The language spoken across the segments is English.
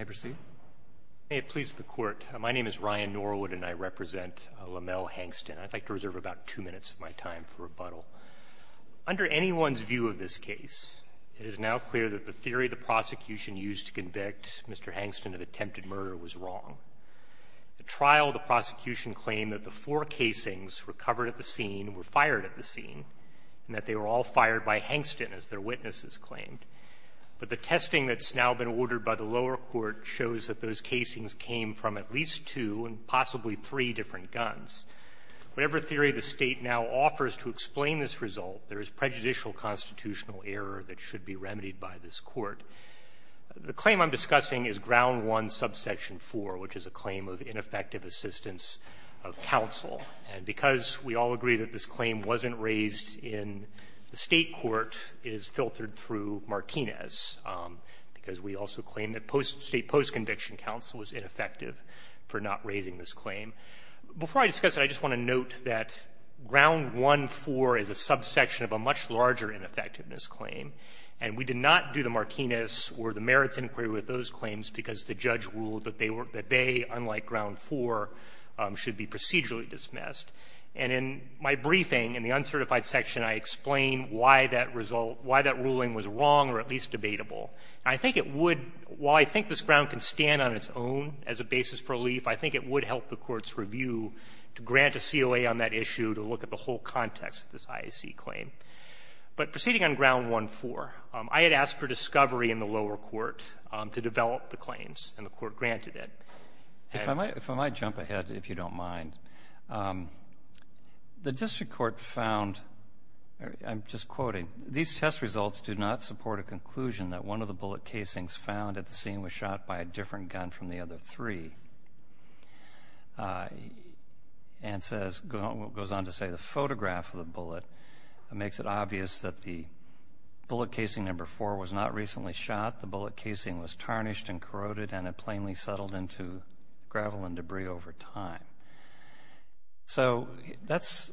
Under anyone's view of this case, it is now clear that the theory the prosecution used to convict Mr. Hankston of attempted murder was wrong. At trial, the prosecution claimed that the four casings were covered at the scene, were fired at the scene, and that they were all fired by Hankston, as their witnesses claimed. The proceeding that's now been ordered by the lower court shows that those casings came from at least two and possibly three different guns. Whatever theory the State now offers to explain this result, there is prejudicial constitutional error that should be remedied by this Court. The claim I'm discussing is Ground One, Subsection 4, which is a claim of ineffective assistance of counsel. And because we all agree that this claim wasn't raised in the State court, it is filtered through Martinez, because we also claim that state post-conviction counsel is ineffective for not raising this claim. Before I discuss it, I just want to note that Ground 1, 4 is a subsection of a much larger ineffectiveness claim, and we did not do the Martinez or the merits inquiry with those claims because the judge ruled that they, unlike Ground 4, should be procedurally dismissed. And in my briefing in the uncertified section, I explain why that result, why that ruling was wrong or at least debatable. I think it would, while I think this ground can stand on its own as a basis for relief, I think it would help the Court's review to grant a COA on that issue to look at the whole context of this IAC claim. But proceeding on Ground 1, 4, I had asked for discovery in the lower court to develop the claims, and the Court granted it. If I might, if I might jump ahead, if you don't mind. The district court found, I'm just quoting, these test results do not support a conclusion that one of the bullet casings found at the scene was shot by a different gun from the other three. And says, goes on to say the photograph of the bullet makes it obvious that the bullet casing number 4 was not recently shot. The bullet casing was tarnished and corroded and had plainly settled into gravel and debris over time. So that's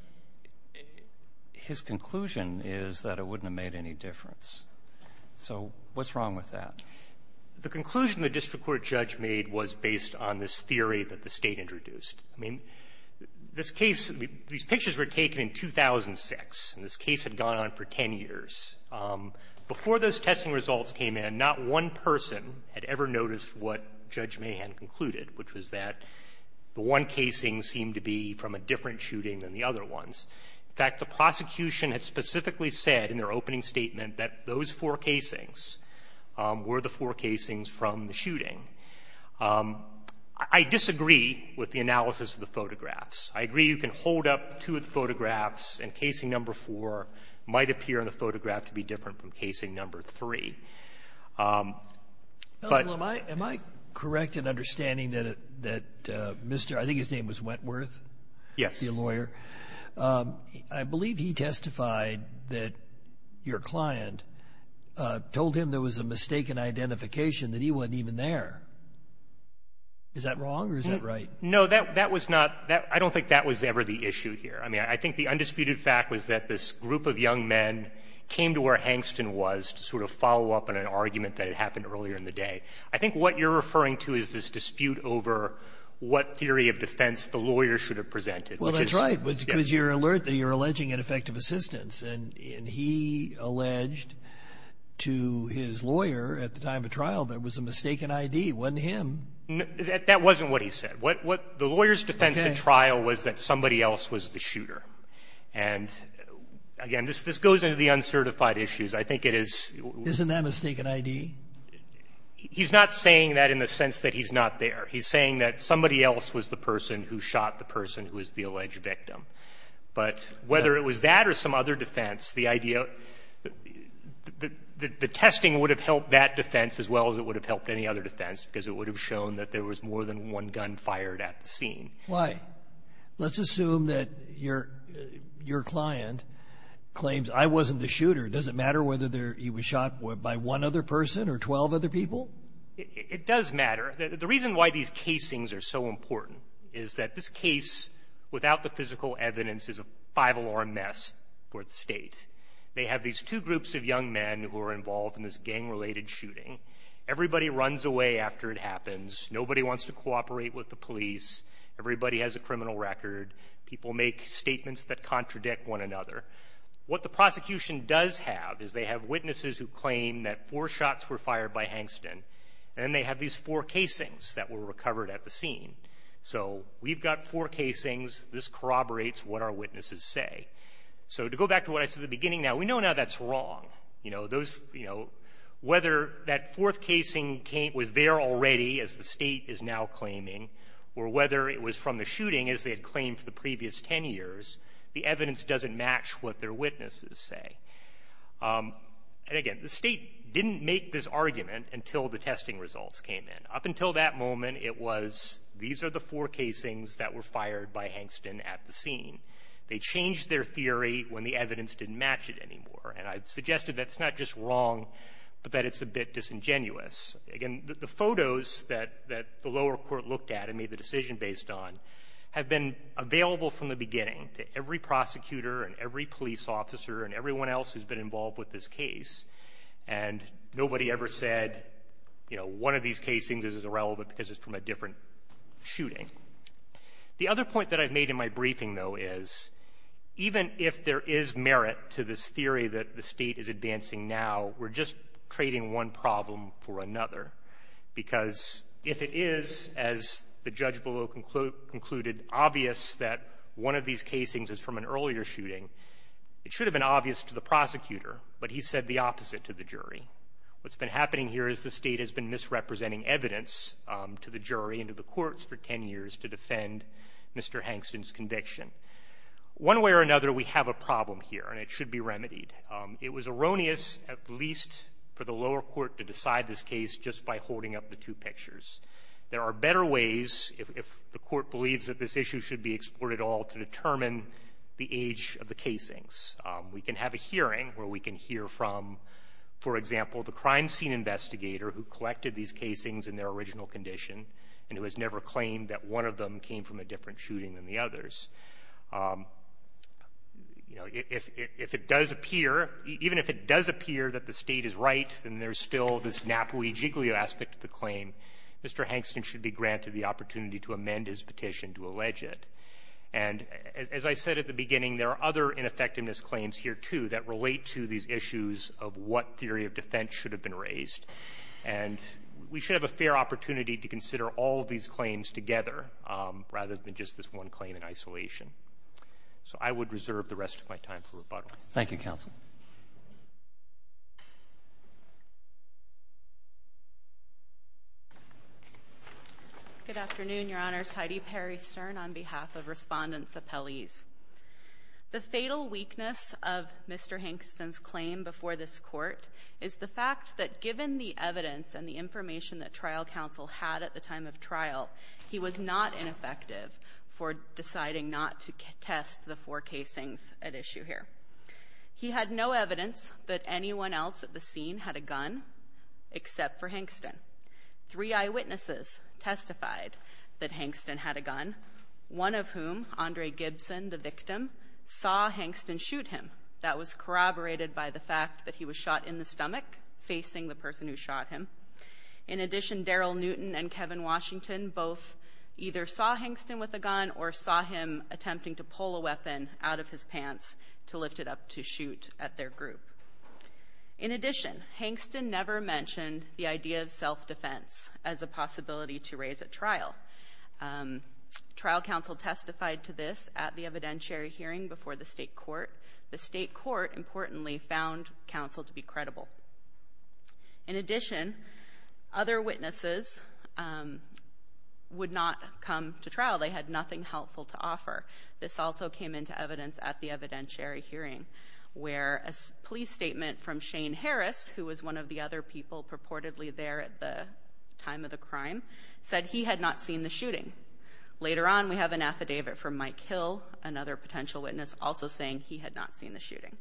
his conclusion is that it wouldn't have made any difference. So what's wrong with that? The conclusion the district court judge made was based on this theory that the State introduced. I mean, this case, these pictures were taken in 2006, and this Judge Mahan concluded, which was that the one casing seemed to be from a different shooting than the other ones. In fact, the prosecution had specifically said in their opening statement that those four casings were the four casings from the shooting. I disagree with the analysis of the photographs. I agree you can hold up two of the Am I correct in understanding that Mr. — I think his name was Wentworth? Yes. To be a lawyer. I believe he testified that your client told him there was a mistaken identification that he wasn't even there. Is that wrong, or is that right? No, that was not — I don't think that was ever the issue here. I mean, I think the undisputed fact was that this group of young men came to where Hangston was to sort of follow up on an argument that had happened earlier in the day. I think what you're referring to is this dispute over what theory of defense the lawyer should have presented. Well, that's right, because you're alert that you're alleging ineffective assistance. And he alleged to his lawyer at the time of trial there was a mistaken ID. It wasn't him. That wasn't what he said. What the lawyer's defense in trial was that somebody else was the shooter. And again, this goes into the uncertified issues. I think it is — Isn't that mistaken ID? He's not saying that in the sense that he's not there. He's saying that somebody else was the person who shot the person who was the alleged victim. But whether it was that or some other defense, the idea — the testing would have helped that defense as well as it would have helped any other defense, because it would have shown that there was more than one gun fired at the scene. Why? Let's assume that your — your client claims, I wasn't the shooter. Does it matter whether there — he was shot by one other person or 12 other people? It does matter. The reason why these casings are so important is that this case, without the physical evidence, is a five-alarm mess for the State. They have these two groups of young men who are involved in this gang-related shooting. Everybody runs away after it happens. Nobody wants to cooperate with the police. Everybody has a criminal record. People make statements that contradict one another. What the prosecution does have is they have witnesses who claim that four shots were fired by Hankston, and then they have these four casings that were recovered at the scene. So we've got four casings. This corroborates what our witnesses say. So to go back to what I said at the beginning, now, we know now that's wrong. You know, those — you know, whether that fourth casing came — was there already, as the State is now claiming, or whether it was from the shooting, as they had claimed for the previous 10 years, the evidence doesn't match what their witnesses say. And again, the State didn't make this argument until the testing results came in. Up until that moment, it was, these are the four casings that were fired by Hankston at the scene. They changed their theory when the evidence didn't match it anymore. And I've suggested that it's not just wrong, but that it's a bit disingenuous. Again, the photos that the lower court looked at and made the decision based on have been available from the beginning to every prosecutor and every police officer and everyone else who's been involved with this case. And nobody ever said, you know, one of these casings is irrelevant because it's from a different shooting. The other point that I've made in my briefing, though, is even if there is merit to this theory that the State is advancing now, we're just trading one problem for another, because if it is, as the judge below concluded, obvious that one of these casings is from an earlier shooting, it should have been obvious to the prosecutor, but he said the opposite to the jury. What's been happening here is the State has been misrepresenting evidence to the jury and to the courts for 10 years to defend Mr. Hankston's conviction. One way or another, we have a problem here, and it should be remedied. It was erroneous, at least for the lower court, to decide this case just by holding up the two pictures. There are better ways, if the court believes that this issue should be explored at all, to determine the age of the casings. We can have a hearing where we can hear from, for example, the crime scene investigator who collected these casings in their original condition and who has never claimed that one of them came from a different shooting than the others. You know, if it does appear, even if it does appear that the State is right, then there is still this Napoli giglio aspect to the claim. Mr. Hankston should be granted the opportunity to amend his petition to allege it. And as I said at the beginning, there are other ineffectiveness claims here, too, that relate to these issues of what theory of defense should have been raised. And we should have a fair opportunity to consider all of these claims together rather than just this one claim in isolation. So I would reserve the rest of my time for rebuttal. Thank you, Counsel. Good afternoon, Your Honors. Heidi Perry Stern on behalf of Respondents' Appellees. The fatal weakness of Mr. Hankston's claim before this Court is the fact that given the evidence and the information that trial counsel had at the time of trial, he was not ineffective for deciding not to test the four casings at issue here. He had no evidence that anyone else at the scene had a gun except for Hankston. Three eyewitnesses testified that Hankston had a gun, one of whom, Andre Gibson, the victim, saw Hankston shoot him. That was corroborated by the fact that he was shot in the stomach facing the person who shot him. In addition, Daryl Newton and Kevin Washington both either saw Hankston with a gun or saw him attempting to pull a weapon out of his pants to lift it up to shoot at their group. In addition, Hankston never mentioned the idea of self-defense as a possibility to raise at trial. Trial counsel testified to this at the evidentiary hearing before the State Court. The State Court, importantly, found counsel to be credible. In addition, other witnesses would not come to trial. They had nothing helpful to offer. This also came into evidence at the evidentiary hearing, where a police statement from Shane Harris, who was one of the other people purportedly there at the time of the crime, said he had not seen the shooting. Later on, we have an affidavit from Mike Hill, another potential witness, also saying he had not seen the shooting.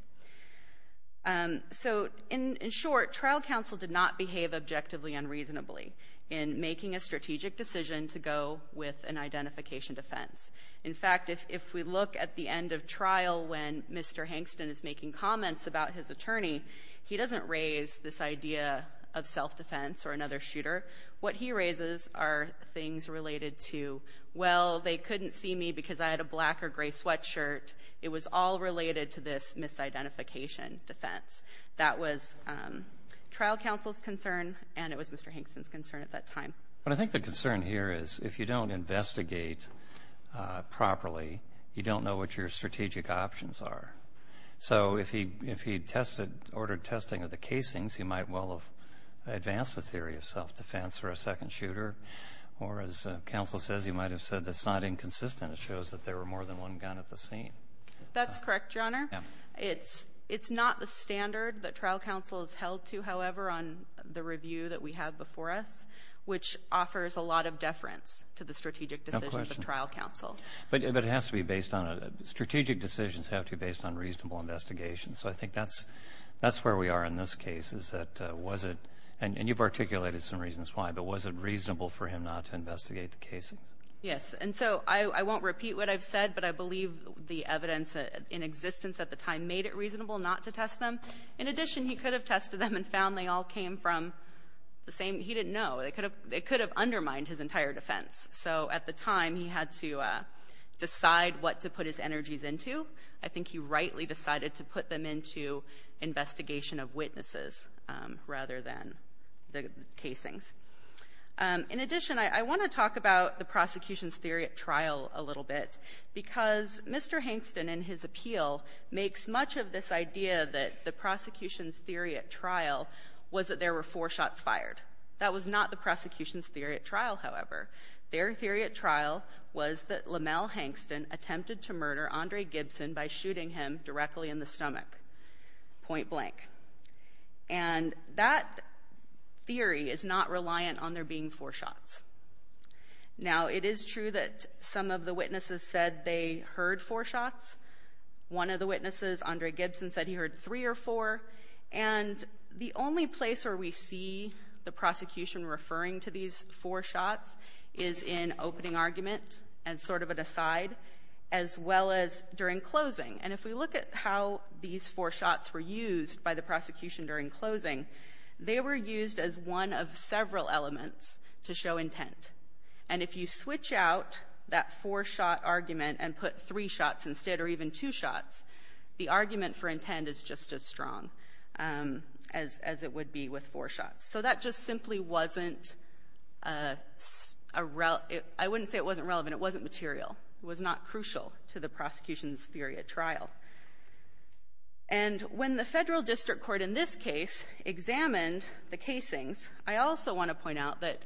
So in short, trial counsel did not behave objectively and reasonably in making a strategic decision to go with an identification defense. In fact, if we look at the end of trial when Mr. Hankston is making comments about his attorney, he doesn't raise this idea of self-defense or another shooter. What he raises are things related to, well, they couldn't see me because I had a black or gray sweatshirt. It was all related to this misidentification defense. That was trial counsel's concern, and it was Mr. Hankston's concern at that time. But I think the concern here is if you don't investigate properly, you don't know what your strategic options are. So if he ordered testing of the casings, he might well have advanced the theory of self-defense for a second shooter. Or as counsel says, he might have said, that's not inconsistent. It shows that there were more than one gun at the scene. That's correct, Your Honor. It's not the standard that trial counsel has held to, however, on the review that we have before us, which offers a lot of deference to the strategic decisions of trial counsel. No question. But it has to be based on a, strategic decisions have to be based on reasonable investigation. So I think that's where we are in this case, is that was it, and you've articulated some reasons why, but was it reasonable for him not to investigate the casings? Yes. And so I won't repeat what I've said, but I believe the evidence in existence at the time made it reasonable not to test them. In addition, he could have tested them and found they all came from the same, he didn't know. They could have undermined his entire defense. So at the time, he had to decide what to put his energies into. I think he rightly decided to put them into investigation of witnesses rather than the casings. In addition, I want to talk about the prosecution's theory at trial a little bit, because Mr. Hankston in his appeal makes much of this theory at trial, was that there were four shots fired. That was not the prosecution's theory at trial, however. Their theory at trial was that Lamel Hankston attempted to murder Andre Gibson by shooting him directly in the stomach, point blank. And that theory is not reliant on there being four shots. Now, it is true that some of the witnesses said they heard four shots. One of the witnesses, Andre Gibson, said he heard three or four. And the only place where we see the prosecution referring to these four shots is in opening argument as sort of an aside, as well as during closing. And if we look at how these four shots were used by the prosecution during closing, they were used as one of several elements to show intent. And if you switch out that four-shot argument and put three shots instead or even two shots, the argument for intent is just as strong as it would be with four shots. So that just simply wasn't a rel — I wouldn't say it wasn't relevant. It wasn't material. It was not crucial to the prosecution's theory at trial. And when the Federal District Court in this case examined the casings, I also want to point out that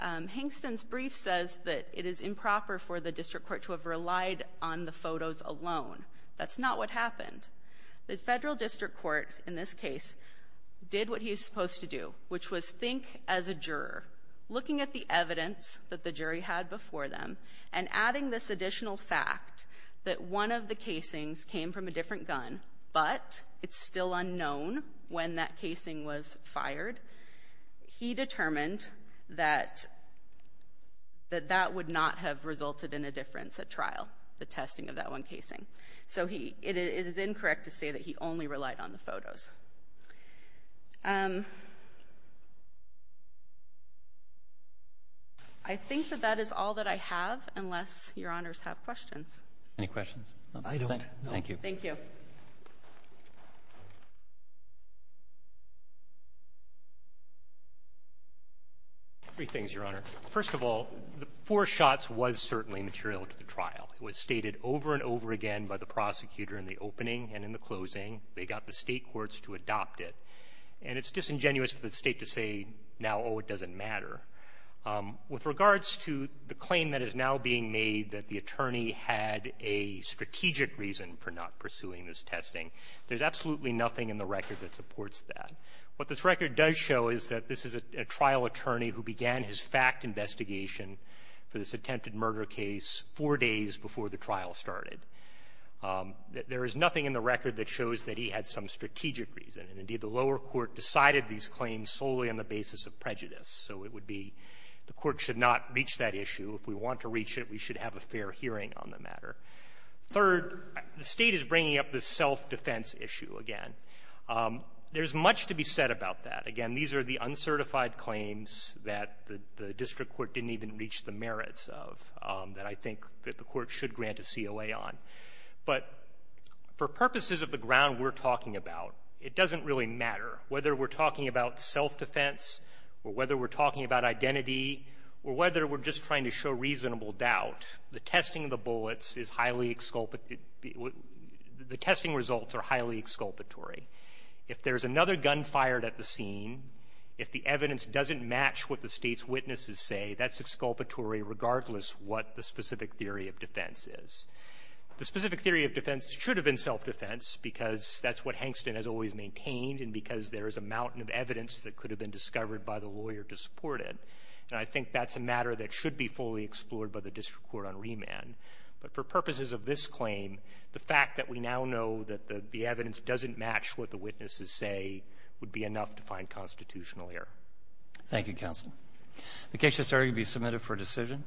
Hankston's brief says that it is improper for the district court to have relied on the photos alone. That's not what happened. The Federal District Court in this case did what he's supposed to do, which was think as a juror, looking at the evidence that the jury had before them and adding this additional fact that one of the casings came from a different gun, but it's still unknown when that casing was fired. He determined that that would not have resulted in a difference. And he did not rely on the trial, the testing of that one casing. So he — it is incorrect to say that he only relied on the photos. I think that that is all that I have, unless Your Honors have questions. Roberts. Any questions? Gershengorn. I don't. Roberts. Thank you. Gershengorn. Thank you. Gershengorn. Three things, Your Honor. First of all, the four shots was certainly material to the trial. It was stated over and over again by the prosecutor in the opening and in the closing. They got the State courts to adopt it. And it's disingenuous for the State to say now, oh, it doesn't matter. With regards to the claim that is now being made that the attorney had a strategic reason for not pursuing this testing, there's absolutely nothing in the record that supports that. What this record does show is that this is a trial attorney who began his fact investigation for this attempted murder case four days before the trial started. There is nothing in the record that shows that he had some strategic reason. And, indeed, the lower court decided these claims solely on the basis of prejudice. So it would be the court should not reach that issue. If we want to reach it, we should have a fair hearing on the matter. Third, the State is bringing up this self-defense issue again. There's much to be said about that. Again, these are the uncertified claims that the district court didn't even reach the merits of that I think that the court should grant a COA on. But for purposes of the ground we're talking about, it doesn't really matter whether we're talking about self-defense or whether we're talking about identity or whether we're just trying to show reasonable doubt, the testing of the bullets is highly exculpatory. The testing results are highly exculpatory. If there's another gun fired at the scene, if the evidence doesn't match what the State's witnesses say, that's exculpatory regardless what the specific theory of defense is. The specific theory of defense should have been self-defense because that's what Hankston has always maintained and because there is a mountain of evidence that could have been discovered by the lawyer to support it. And I think that's a matter that should be fully explored by the district court on remand. But for purposes of this claim, the fact that we now know that the evidence doesn't match what the witnesses say would be enough to find constitutional error. Thank you, Counsel. The case has started to be submitted for decision.